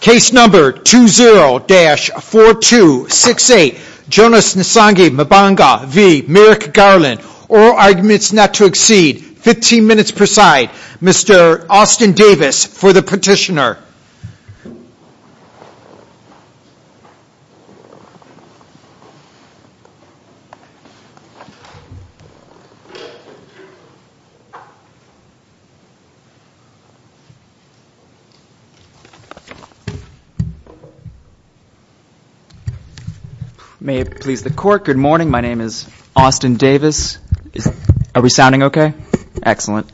case number 20-4268 Jonas Nsongi Mbonga v. Merrick Garland oral arguments not to exceed 15 minutes per side Mr. Austin Davis for the petitioner May it please the court. Good morning. My name is Austin Davis. Are we sounding okay? Excellent.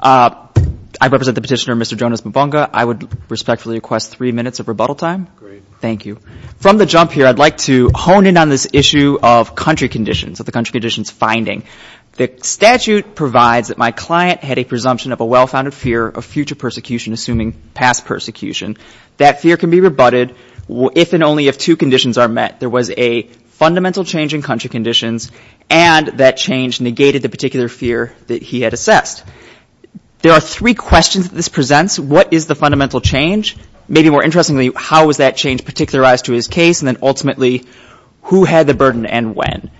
I represent the petitioner Mr. Jonas Mbonga. I would respectfully request three minutes of rebuttal time. Thank you. From the jump here, I'd like to hone in on this issue of country conditions, of the country conditions finding. The statute provides that my client had a presumption of a well-founded fear of future persecution, assuming past persecution. That fear can be rebutted if and only if two conditions are met. There was a fundamental change in country conditions and that change negated the particular fear that he had assessed. There are three questions that this presents. What is the fundamental change? Maybe more interestingly, how was that change particularized to his case and then ultimately, who had the burden and when?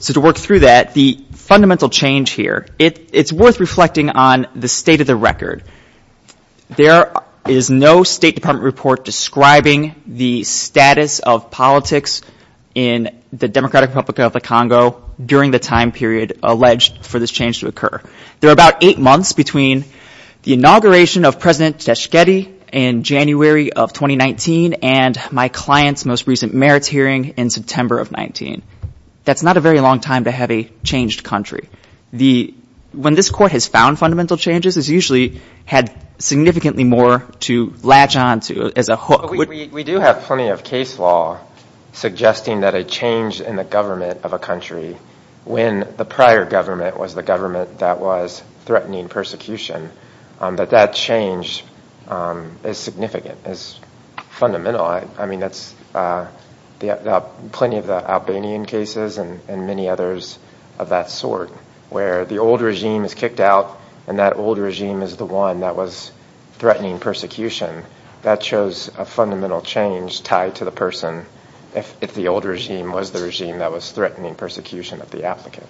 So to work through that, the fundamental change here, it's worth reflecting on the state of the record. There is no State Department report describing the status of politics in the Democratic Republic of the Congo during the time period alleged for this change to occur. There are about eight months between the inauguration of President Teshketi in January of 2019 and my client's most recent merits hearing in September of 19. That's not a very long time to have a changed country. When this court has found fundamental changes, it's usually had significantly more to latch on to as a hook. We do have plenty of case law suggesting that a change in the government of a country when the prior government was the government that was threatening persecution, that that change is significant, is fundamental. I mean that's plenty of the Albanian cases and many others of that sort where the old regime is kicked out and that old regime is the one that was threatening persecution. That shows a fundamental change tied to the person if the old regime was the regime that was threatening persecution of the applicant.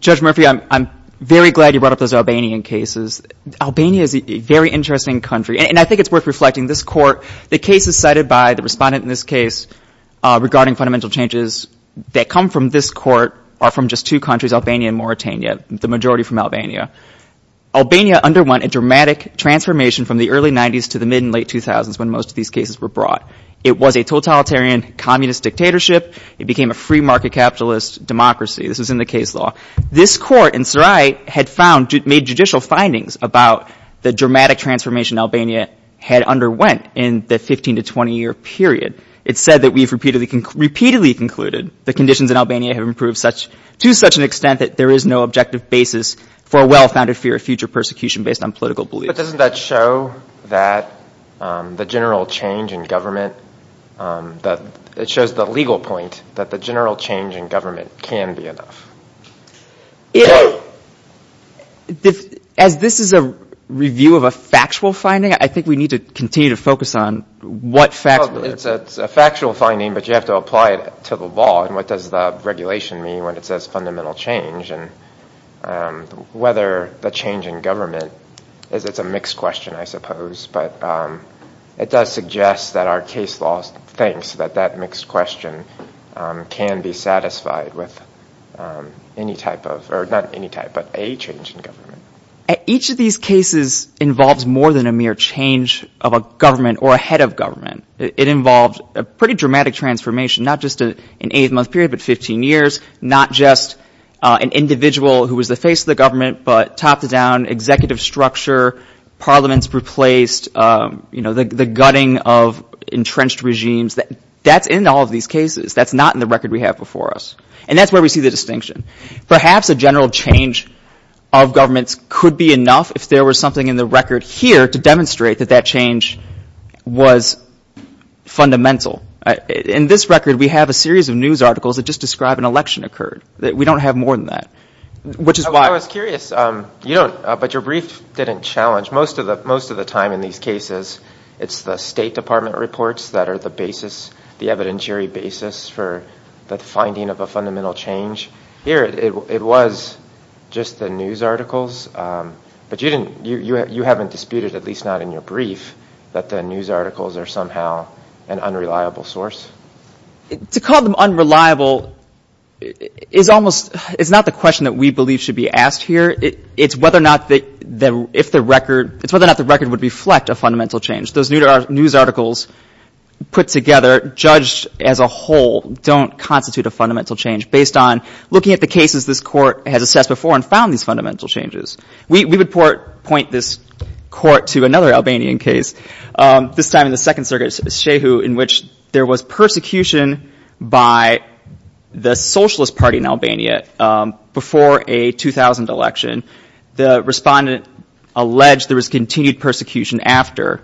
Judge Murphy, I'm very glad you brought up those Albanian cases. Albania is a very interesting country and I think it's worth reflecting. This court, the cases cited by the respondent in this case regarding fundamental changes that come from this court are from just two countries, Albania and Mauritania, the majority from Albania. Albania underwent a dramatic transformation from the early 90s to the mid and late 2000s when most of these cases were brought. It was a totalitarian communist dictatorship. It became a free market capitalist democracy. This was in the case law. This court in Saraj had found, made judicial findings about the dramatic transformation Albania had underwent in the 15 to 20 year period. It said that we've repeatedly concluded the conditions in Albania have improved to such an extent that there is no objective basis for a well-founded fear of future persecution based on political beliefs. But doesn't that show that the general change in government, that it shows the legal point that the general change in government can be enough? As this is a review of a factual finding, I think we need to continue to focus on what facts. It's a factual finding, but you have to apply it to the law and what does the regulation mean when it says fundamental change and whether the change in government is a mixed question, I suppose. But it does suggest that our case law thinks that that mixed question can be satisfied with any type of, or not any type, but a change in government. Each of these cases involves more than a mere change of a government or a head of government. It involves a pretty dramatic transformation, not just an eight month period, but 15 years. Not just an individual who was the face of the government, but top to down executive structure, parliaments replaced, you know, the gutting of entrenched regimes. That's in all of these cases. That's not in the record we have before us. And that's where we see the distinction. Perhaps a general change of governments could be enough if there was something in the record here to demonstrate that that change was fundamental. In this record, we have a series of news articles that just describe an election occurred. We don't have more than that, which is why. I was curious, but your brief didn't challenge, most of the time in these cases, it's the State Department reports that are the basis, the evidentiary basis for the finding of a fundamental change. Here it was just the news articles. But you haven't disputed, at least not in your brief, that the news articles are somehow an unreliable source. To call them unreliable is almost, it's not the question that we believe should be asked here. It's whether or not the record would reflect a fundamental change. Those news articles put together, judged as a whole, don't constitute a fundamental change, based on looking at the cases this Court has assessed before and found these fundamental changes. We would point this Court to another Albanian case, this time in the Second Circuit, Shehu, in which there was persecution by the Socialist Party in Albania before a 2000 election. The respondent alleged there was continued persecution after,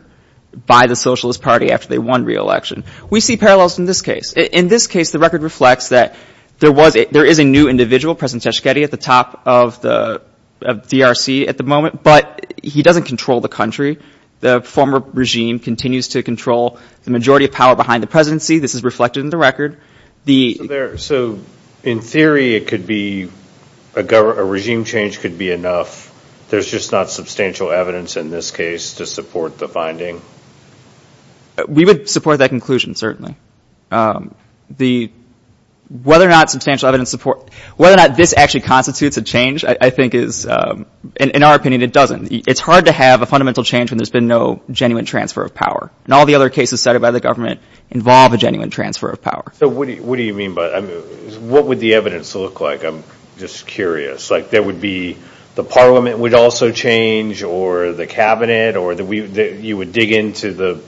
by the Socialist Party after they won re-election. We see parallels in this case. In this case, the record reflects that there was, there is a new individual, President Tshishketi, at the top of the DRC at the moment, but he doesn't control the country. The former regime continues to control the majority of power behind the presidency. This is reflected in the record. So in theory, it could be, a regime change could be enough. There's just not substantial evidence in this case to support the finding. We would support that conclusion, certainly. The, whether or not substantial evidence support, whether or not this actually constitutes a change, I think is, in our opinion, it doesn't. It's hard to have a fundamental change when there's been no genuine transfer of power. And all the other cases cited by the government involve a genuine transfer of power. So what do you mean by, what would the evidence look like? I'm just curious. Like, there would be, the parliament would also change, or the cabinet, or you would dig into the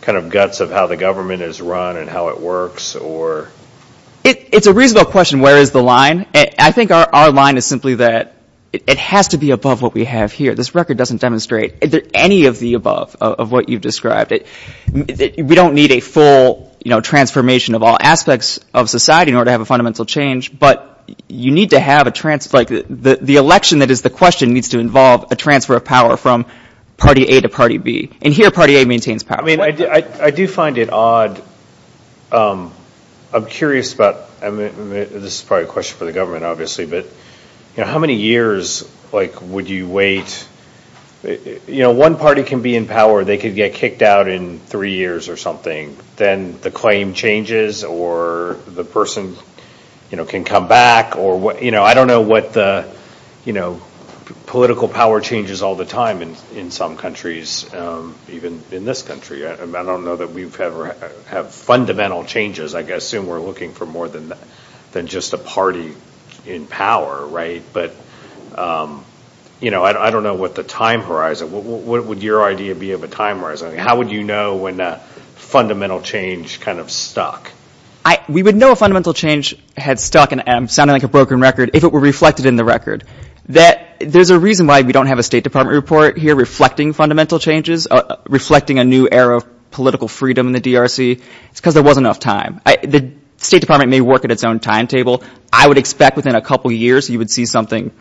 kind of guts of how the government is run and how it works, or? It's a reasonable question, where is the line? I think our line is simply that it has to be above what we have here. This record doesn't demonstrate any of the above of what you've described. We don't need a full transformation of all aspects of society in order to have a fundamental change. But you need to have a, like, the election that is the question needs to involve a transfer of power from party A to party B. And here party A maintains power. I mean, I do find it odd. I'm curious about, this is probably a question for the government, obviously, but, you know, how many years, like, would you wait? You know, one party can be in power, they could get kicked out in three years or something. Then the claim changes, or the person, you know, can come back, or, you know, I don't know what the, you know, political power changes all the time in some countries, even in this country. I don't know that we've ever had fundamental changes. I assume we're looking for more than just a party in power, right? But, you know, I don't know what the time horizon, what would your idea be of a time horizon? How would you know when a fundamental change kind of stuck? We would know a fundamental change had stuck, and I'm sounding like a broken record, if it were reflected in the record. There's a reason why we don't have a State Department report here reflecting fundamental changes, reflecting a new era of political freedom in the DRC. It's because there wasn't enough time. The State Department may work at its own timetable. I would expect within a couple years you would see something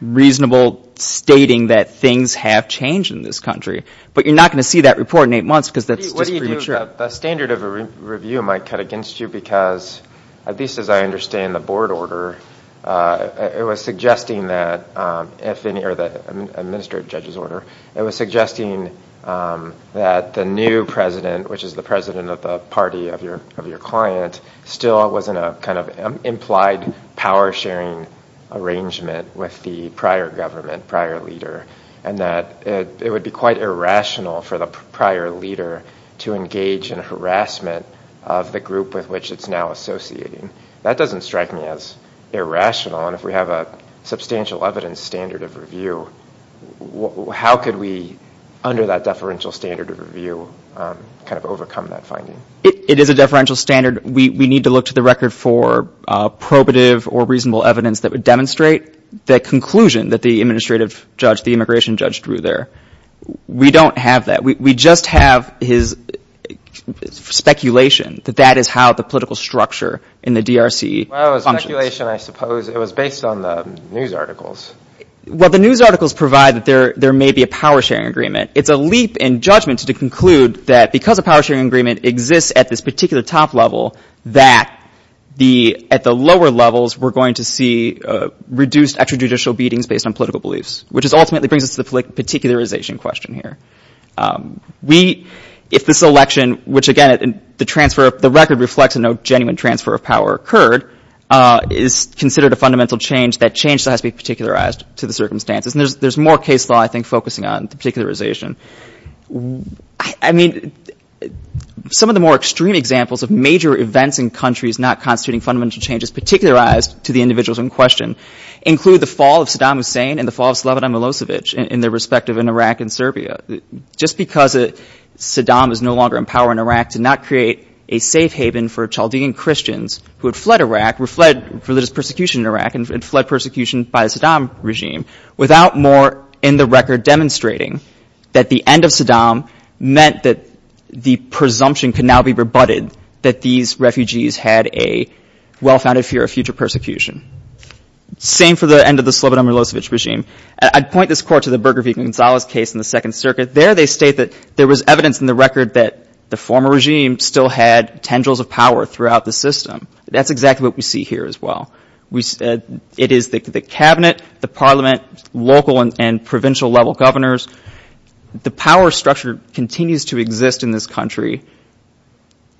reasonable stating that things have changed in this country. But you're not going to see that report in eight months because that's just premature. The standard of a review might cut against you because, at least as I understand the board order, it was suggesting that if any, or the administrative judge's order, it was suggesting that the new president, which is the president of the party of your client, still wasn't a kind of implied power-sharing arrangement with the prior government, prior leader, and that it would be quite irrational for the prior leader to engage in harassment of the group with which it's now associating. That doesn't strike me as irrational. And if we have a substantial evidence standard of review, how could we, under that deferential standard of review, kind of overcome that finding? It is a deferential standard. We need to look to the record for probative or reasonable evidence that would demonstrate the conclusion that the administrative judge, the immigration judge, drew there. We don't have that. We just have his speculation that that is how the political structure in the DRC functions. Well, it was speculation, I suppose. It was based on the news articles. Well, the news articles provide that there may be a power-sharing agreement. It's a leap in judgment to conclude that because a power-sharing agreement exists at this particular top level, that at the lower levels we're going to see reduced extrajudicial beatings based on political beliefs, which ultimately brings us to the particularization question here. If this election, which, again, the transfer of the record reflects a no genuine transfer of power occurred, is considered a fundamental change, that change still has to be particularized to the circumstances. And there's more case law, I think, focusing on the particularization. I mean, some of the more extreme examples of major events in countries not constituting fundamental changes particularized to the individuals in question include the fall of Saddam Hussein and the fall of Slobodan Milosevic in their respective Iraq and Serbia. Just because Saddam is no longer in power in Iraq did not create a safe haven for Chaldean Christians who had fled Iraq, fled religious persecution in Iraq, and fled persecution by the Saddam regime, without more in the record demonstrating that the end of Saddam meant that the presumption could now be rebutted that these refugees had a well-founded fear of future persecution. Same for the end of the Slobodan Milosevic regime. I'd point this court to the Berger v. Gonzalez case in the Second Circuit. There they state that there was evidence in the record that the former regime still had tendrils of power throughout the system. That's exactly what we see here as well. It is the cabinet, the parliament, local and provincial level governors. The power structure continues to exist in this country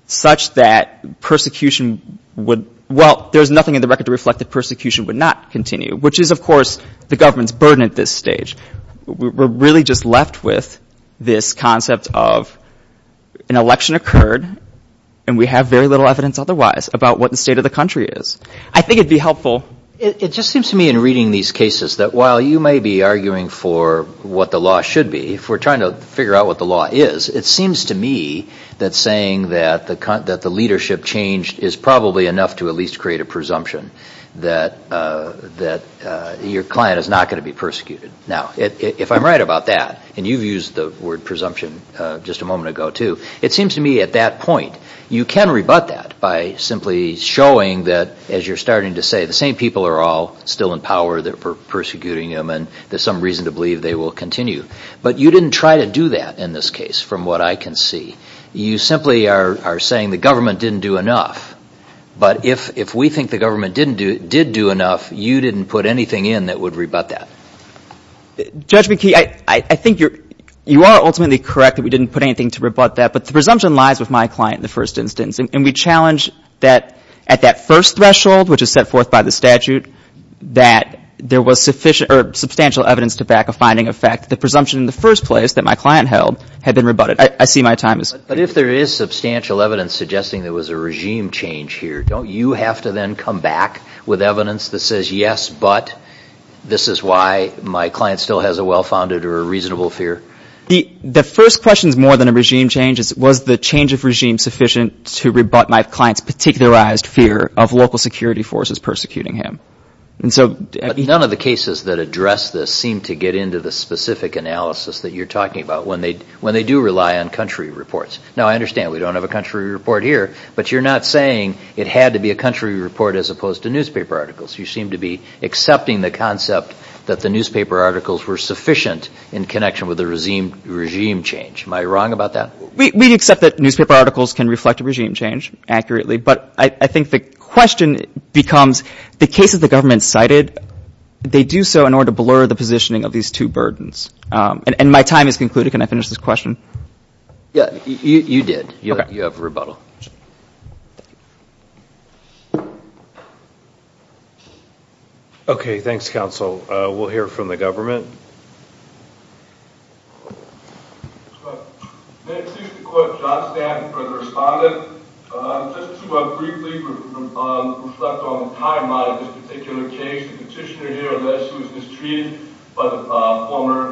such that persecution would – well, there's nothing in the record to reflect that persecution would not continue, which is, of course, the government's burden at this stage. We're really just left with this concept of an election occurred and we have very little evidence otherwise about what the state of the country is. I think it would be helpful – It just seems to me in reading these cases that while you may be arguing for what the law should be, if we're trying to figure out what the law is, it seems to me that saying that the leadership changed is probably enough to at least create a presumption that your client is not going to be persecuted. Now, if I'm right about that, and you've used the word presumption just a moment ago too, it seems to me at that point you can rebut that by simply showing that, as you're starting to say, the same people are all still in power, they're persecuting them, and there's some reason to believe they will continue. But you didn't try to do that in this case, from what I can see. You simply are saying the government didn't do enough. But if we think the government did do enough, you didn't put anything in that would rebut that. Judge McKee, I think you are ultimately correct that we didn't put anything to rebut that, but the presumption lies with my client in the first instance. And we challenge that at that first threshold, which is set forth by the statute, that there was substantial evidence to back a finding of fact. The presumption in the first place that my client held had been rebutted. I see my time is up. But if there is substantial evidence suggesting there was a regime change here, don't you have to then come back with evidence that says, yes, but this is why my client still has a well-founded or a reasonable fear? The first question is more than a regime change. Was the change of regime sufficient to rebut my client's particularized fear of local security forces persecuting him? None of the cases that address this seem to get into the specific analysis that you're talking about when they do rely on country reports. Now, I understand we don't have a country report here, but you're not saying it had to be a country report as opposed to newspaper articles. You seem to be accepting the concept that the newspaper articles were sufficient in connection with the regime change. Am I wrong about that? We accept that newspaper articles can reflect a regime change accurately, but I think the question becomes the cases the government cited, they do so in order to blur the positioning of these two burdens. And my time is concluded. Can I finish this question? Yeah, you did. You have rebuttal. Okay, thanks, counsel. We'll hear from the government. Thank you, Mr. Court. John Stanton, further respondent. Just to briefly reflect on the timeline of this particular case, the petitioner here alleged he was mistreated by the former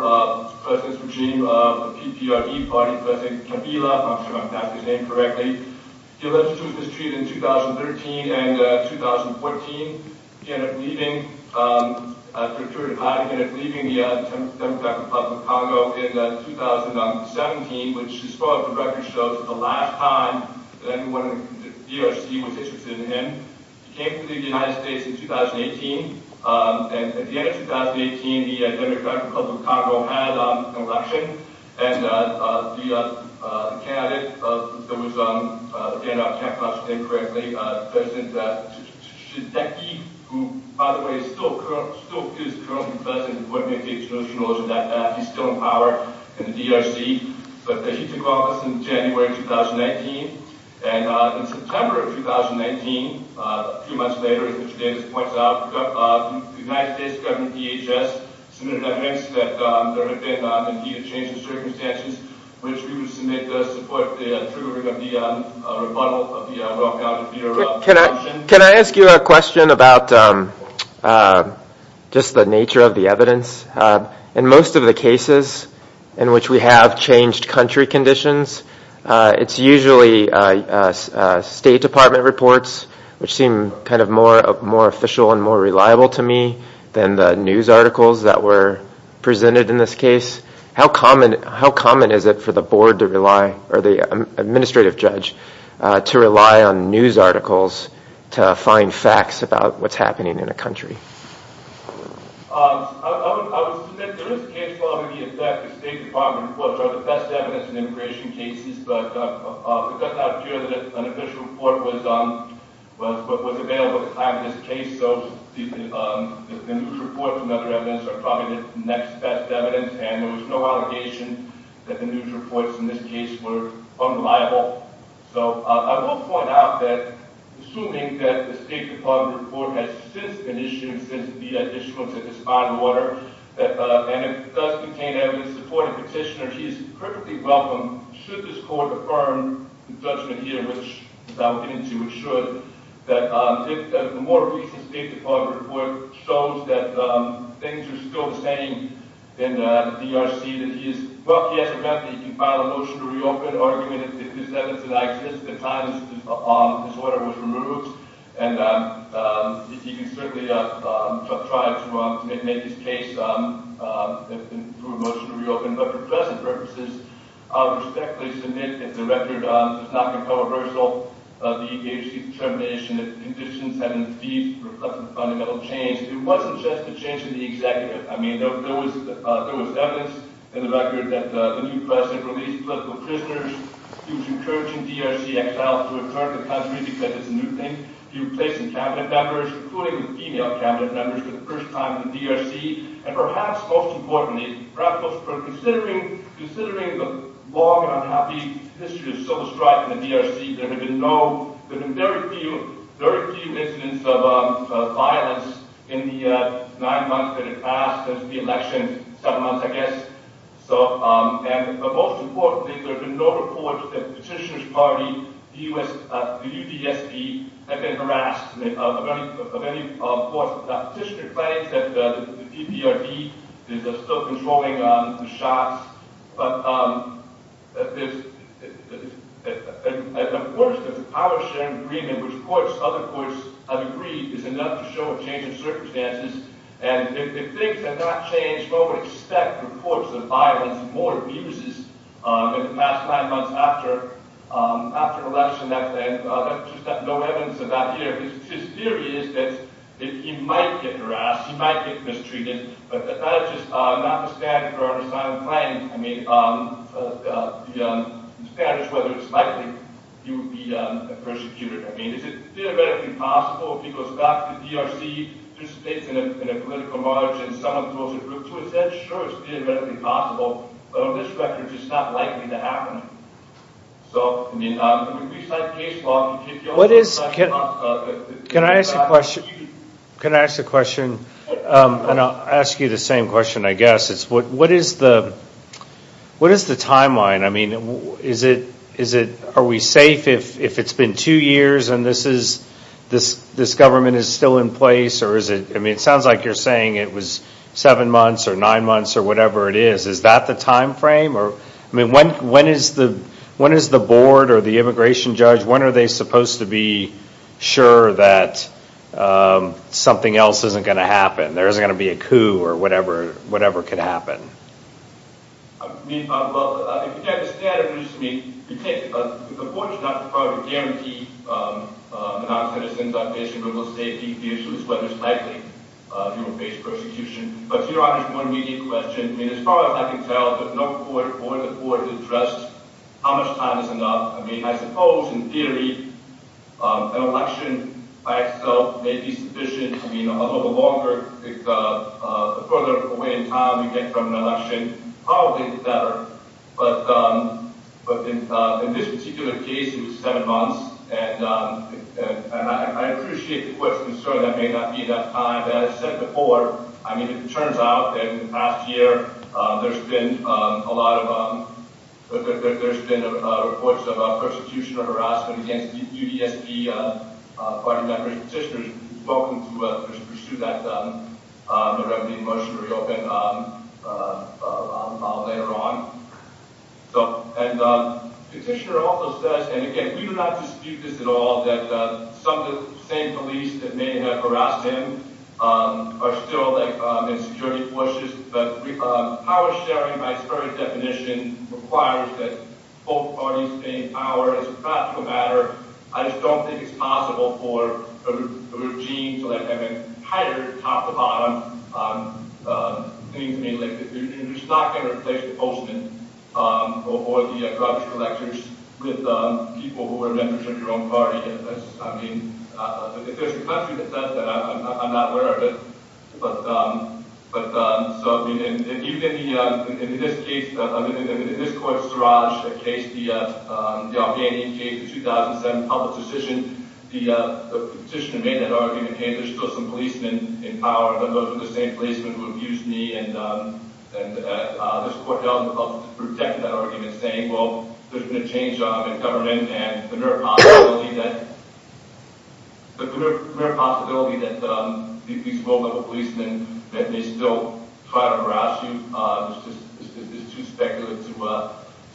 president's regime of the PPRD party, President Kabila. I'm not sure if I'm pronouncing his name correctly. He alleged he was mistreated in 2013 and 2014. He ended up leaving the Democratic Republic of Congo in 2017, which, as far as the record shows, is the last time that anyone in the DRC was interested in him. He came to the United States in 2018. And at the end of 2018, the Democratic Republic of Congo had an election, and the candidate that was standing out, if I'm pronouncing your name correctly, President Tshiseki, who, by the way, is still currently president, would make a motion that he's still in power in the DRC. But he took office in January 2019. And in September of 2019, a few months later, as Mr. Davis points out, the United States government, DHS, submitted evidence that there had been, indeed, a change in circumstances, which we would submit to support the triggering of the rebuttal of the rock out of the eruption. Can I ask you a question about just the nature of the evidence? In most of the cases in which we have changed country conditions, it's usually State Department reports, which seem kind of more official and more reliable to me than the news articles that were presented in this case. How common is it for the board to rely, or the administrative judge, to rely on news articles to find facts about what's happening in a country? I would submit there is case law in the effect that State Department reports are the best evidence in immigration cases. But it does not appear that an official report was available at the time of this case. So the news reports and other evidence are probably the next best evidence. And there was no allegation that the news reports in this case were unreliable. I will point out that, assuming that the State Department report has since been issued, since the issuance of this fine order, and it does contain evidence supporting the petitioner, he is perfectly welcome, should this court affirm the judgment here, which I will get into, it should, that if the more recent State Department report shows that things are still the same in the DRC, well, he has a right to file a motion to reopen argument. If this evidence did not exist at the time this order was removed, he can certainly try to make his case through a motion to reopen. But for present purposes, I would respectfully submit that the record is not controversial. The DRC determination that the conditions have indeed reflected fundamental change. It wasn't just a change in the executive. I mean, there was evidence in the record that the new president released political prisoners. He was encouraging DRC exiles to return to the country because it's a new thing. He replaced some cabinet members, including female cabinet members, for the first time in the DRC. And perhaps most importantly, perhaps considering the long and unhappy history of civil strife in the DRC, there have been very few incidents of violence in the nine months that have passed since the election. Seven months, I guess. But most importantly, there have been no reports that the Petitioner's Party, the UDSP, have been harassed. Of course, the Petitioner claims that the PPRD is still controlling the shots. But there's a portion of the power-sharing agreement which courts, other courts, have agreed is enough to show a change in circumstances. And if things had not changed, what would expect reports of violence and more abuses in the past nine months after election? That's just no evidence of that here. His theory is that he might get harassed, he might get mistreated. But that's just not the standard for our asylum claims. I mean, the standard is whether it's likely he would be persecuted. I mean, is it theoretically possible if he goes back to the DRC, participates in a political march, and someone throws a group to his head? Sure, it's theoretically possible. But on this record, it's just not likely to happen. So, I mean, we cite case law in particular. Can I ask a question? And I'll ask you the same question, I guess. What is the timeline? I mean, are we safe if it's been two years and this government is still in place? I mean, it sounds like you're saying it was seven months or nine months or whatever it is. Is that the time frame? I mean, when is the board or the immigration judge, when are they supposed to be sure that something else isn't going to happen? There isn't going to be a coup or whatever could happen? I mean, well, if you take the standard, it's important not to probably guarantee that our citizens are facing the most safety issues, whether it's likely he will face persecution. But to your obvious more immediate question, as far as I can tell, no court or the board has addressed how much time is enough. I mean, I suppose, in theory, an election by itself may be sufficient. I mean, a little bit longer, the further away in time you get from an election, probably better. But in this particular case, it was seven months. And I appreciate the court's concern that it may not be enough time. As I said before, I mean, it turns out that in the past year, there's been a lot of reports of persecution or harassment against UDSP party members. Petitioner is welcome to pursue that. The revenue motion will be open later on. And Petitioner also says, and again, we do not dispute this at all, that some of the same police that may have harassed him are still in security forces. But power sharing, by its very definition, requires that both parties gain power. It's a practical matter. I just don't think it's possible for a regime to have an entire top-to-bottom thing to be lifted. It's not going to replace the postman or the drug collectors with people who are members of your own party. I mean, if there's a country that does that, I'm not aware of it. But even in this case, I mean, in this court's Seraj case, the Albany case, the 2007 public decision, the petitioner made that argument, hey, there's still some policemen in power. None of those are the same policemen who abused me. And this court helped protect that argument, saying, well, there's been a change in government, and the mere possibility that these low-level policemen may still try to harass you is too speculative to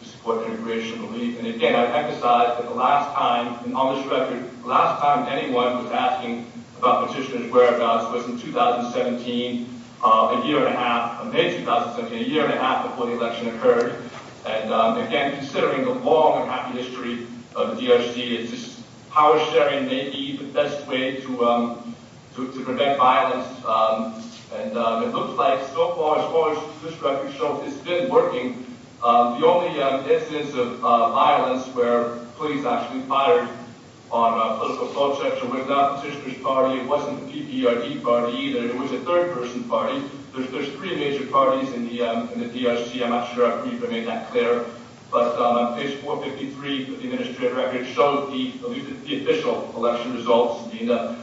support integration relief. And again, I emphasize that the last time, and on this record, the last time anyone was asking about petitioner's whereabouts was in 2017, a year and a half, May 2017, a year and a half before the election occurred. And again, considering the long and happy history of the DRC, is this power sharing maybe the best way to prevent violence? And it looks like so far, as far as this record shows, it's been working. The only instance of violence where police actually fired on a political procession was not the petitioner's party. It wasn't the PPRD party, either. It was a third-person party. There's three major parties in the DRC. I'm not sure. I believe I made that clear. But page 453 of the administrative record shows the official election results. The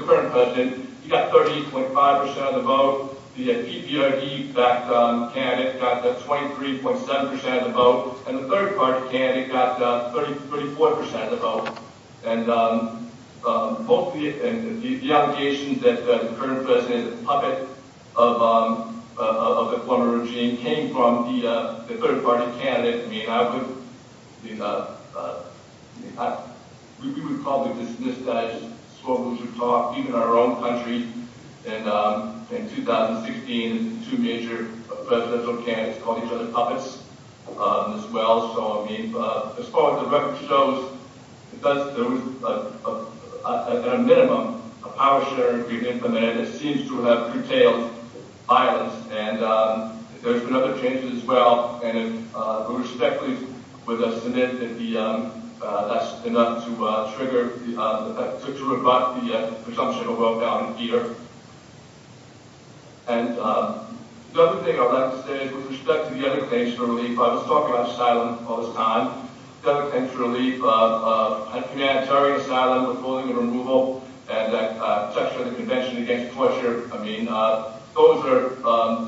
current president, he got 38.5% of the vote. The PPRD-backed candidate got 23.7% of the vote. And the third-party candidate got 34% of the vote. And the allegations that the current president is a puppet of the Cuomo regime came from the third-party candidate. I mean, I would—we would probably dismiss that as slow-motion talk, even in our own country. In 2016, two major presidential candidates called each other puppets as well. So, I mean, as far as the record shows, there was, at a minimum, a power-sharing agreement implemented. It seems to have curtailed violence. And there's been other changes as well. And with respect, please, with the Senate, that's enough to trigger—to rebut the presumption of a vote down in Peter. And the other thing I would like to say is, with respect to the other page, the relief—I was talking about asylum all this time. Democrat relief, humanitarian asylum, withholding and removal, and the texture of the convention against torture. I mean, those are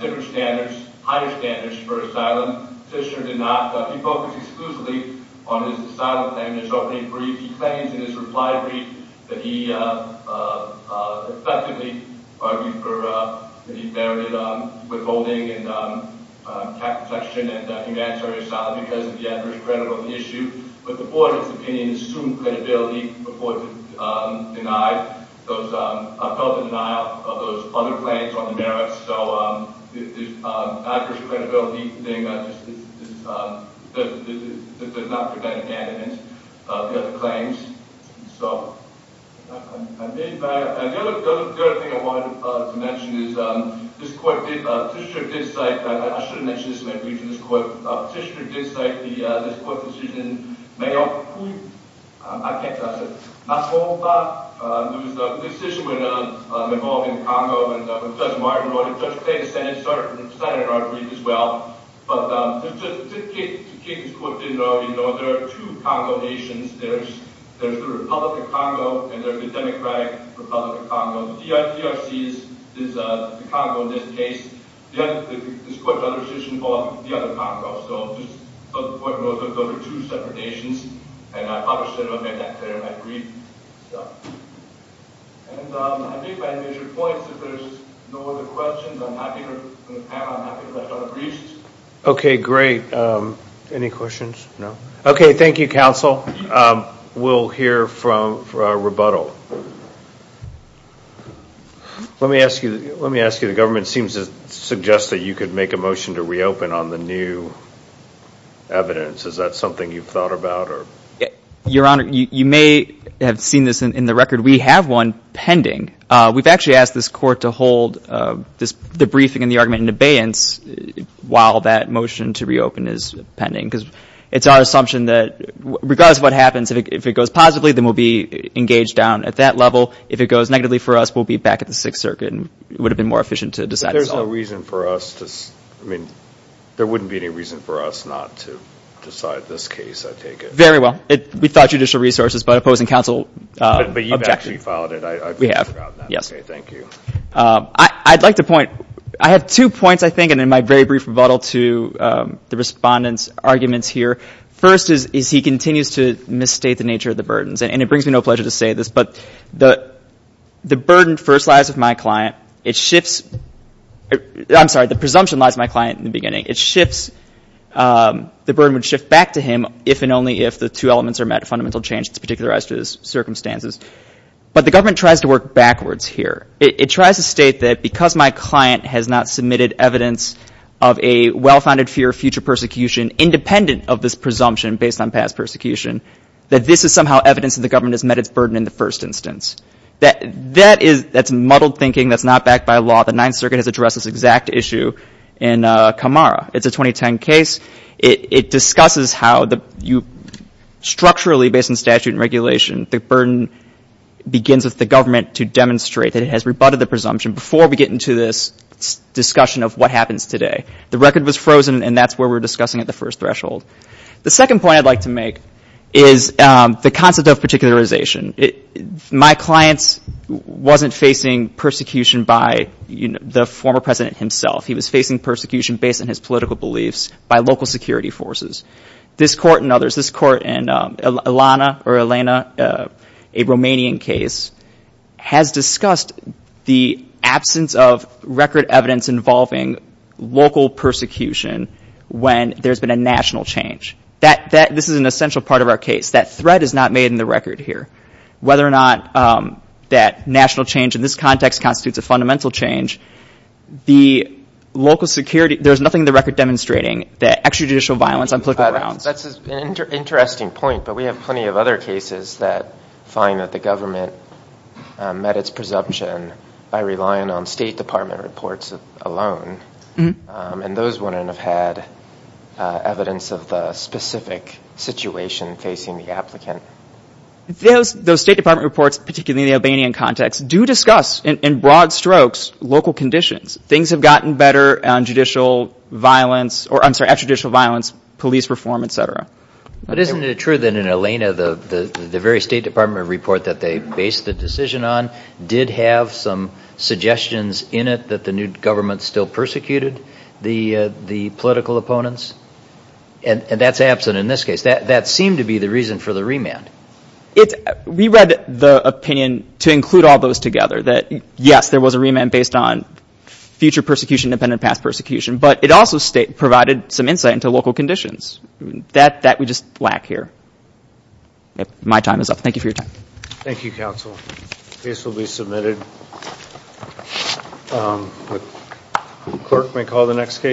different standards, higher standards for asylum. Fischer did not. He focused exclusively on his asylum claim. There's already a brief—he claims in his reply brief that he effectively argued for— because of the adverse credit on the issue. But the board, in its opinion, assumed credibility before it denied those—felt the denial of those other claims on the merits. So, the adverse credibility thing does not prevent abandonment of the other claims. So, I mean, the other thing I wanted to mention is, this court did—Fischer did cite— Fischer did cite this court's decision. May I repeat? I can't. I said, that's all of that. There was a decision involving Congo, and Judge Martin wrote it. Judge Pei, the Senate, started in our brief as well. But to Kate's quote, you know, there are two Congo nations. There's the Republic of Congo, and there's the Democratic Republic of Congo. DRC is the Congo in this case. This court's other decision involved the other Congo. So, the court wrote that those are two separate nations, and I understand that, and I agree. And I think that measures points. If there's no other questions, I'm happy to—and I'm happy to rush on the briefs. Okay, great. Any questions? No? Okay, thank you, counsel. We'll hear from—for our rebuttal. Let me ask you—let me ask you. The government seems to suggest that you could make a motion to reopen on the new evidence. Is that something you've thought about? Your Honor, you may have seen this in the record. We have one pending. We've actually asked this court to hold the briefing and the argument in abeyance while that motion to reopen is pending, because it's our assumption that, regardless of what happens, if it goes positively, then we'll be engaged down at that level. If it goes negatively for us, we'll be back at the Sixth Circuit, and it would have been more efficient to decide it. But there's no reason for us to—I mean, there wouldn't be any reason for us not to decide this case, I take it. Very well. We thought judicial resources, but opposing counsel objected. But you've actually filed it. We have, yes. Okay, thank you. I'd like to point—I have two points, I think, and in my very brief rebuttal to the Respondent's arguments here. First is he continues to misstate the nature of the burdens, and it brings me no pleasure to say this, but the burden first lies with my client. It shifts—I'm sorry, the presumption lies with my client in the beginning. It shifts—the burden would shift back to him if and only if the two elements are met, fundamental change that's particularized to his circumstances. But the government tries to work backwards here. It tries to state that because my client has not submitted evidence of a well-founded fear of future persecution, independent of this presumption based on past persecution, that this is somehow evidence that the government has met its burden in the first instance. That is—that's muddled thinking. That's not backed by law. The Ninth Circuit has addressed this exact issue in Camara. It's a 2010 case. It discusses how you structurally, based on statute and regulation, the burden begins with the government to demonstrate that it has rebutted the presumption before we get into this discussion of what happens today. The record was frozen, and that's where we're discussing at the first threshold. The second point I'd like to make is the concept of particularization. My client wasn't facing persecution by the former president himself. He was facing persecution based on his political beliefs by local security forces. This court and others, this court and Elana, a Romanian case, has discussed the absence of record evidence involving local persecution when there's been a national change. This is an essential part of our case. That thread is not made in the record here. Whether or not that national change in this context constitutes a fundamental change, the local security—there's nothing in the record demonstrating that extrajudicial violence on political grounds. That's an interesting point, but we have plenty of other cases that find that the government met its presumption by relying on State Department reports alone, and those wouldn't have had evidence of the specific situation facing the applicant. Those State Department reports, particularly in the Albanian context, do discuss, in broad strokes, local conditions. Things have gotten better on judicial violence—or, I'm sorry, extrajudicial violence, police reform, et cetera. But isn't it true that in Elana, the very State Department report that they based the decision on did have some suggestions in it that the new government still persecuted the political opponents? And that's absent in this case. That seemed to be the reason for the remand. We read the opinion to include all those together— that, yes, there was a remand based on future persecution, independent past persecution, but it also provided some insight into local conditions. That we just lack here. My time is up. Thank you for your time. Thank you, counsel. The case will be submitted. The clerk may call the next case.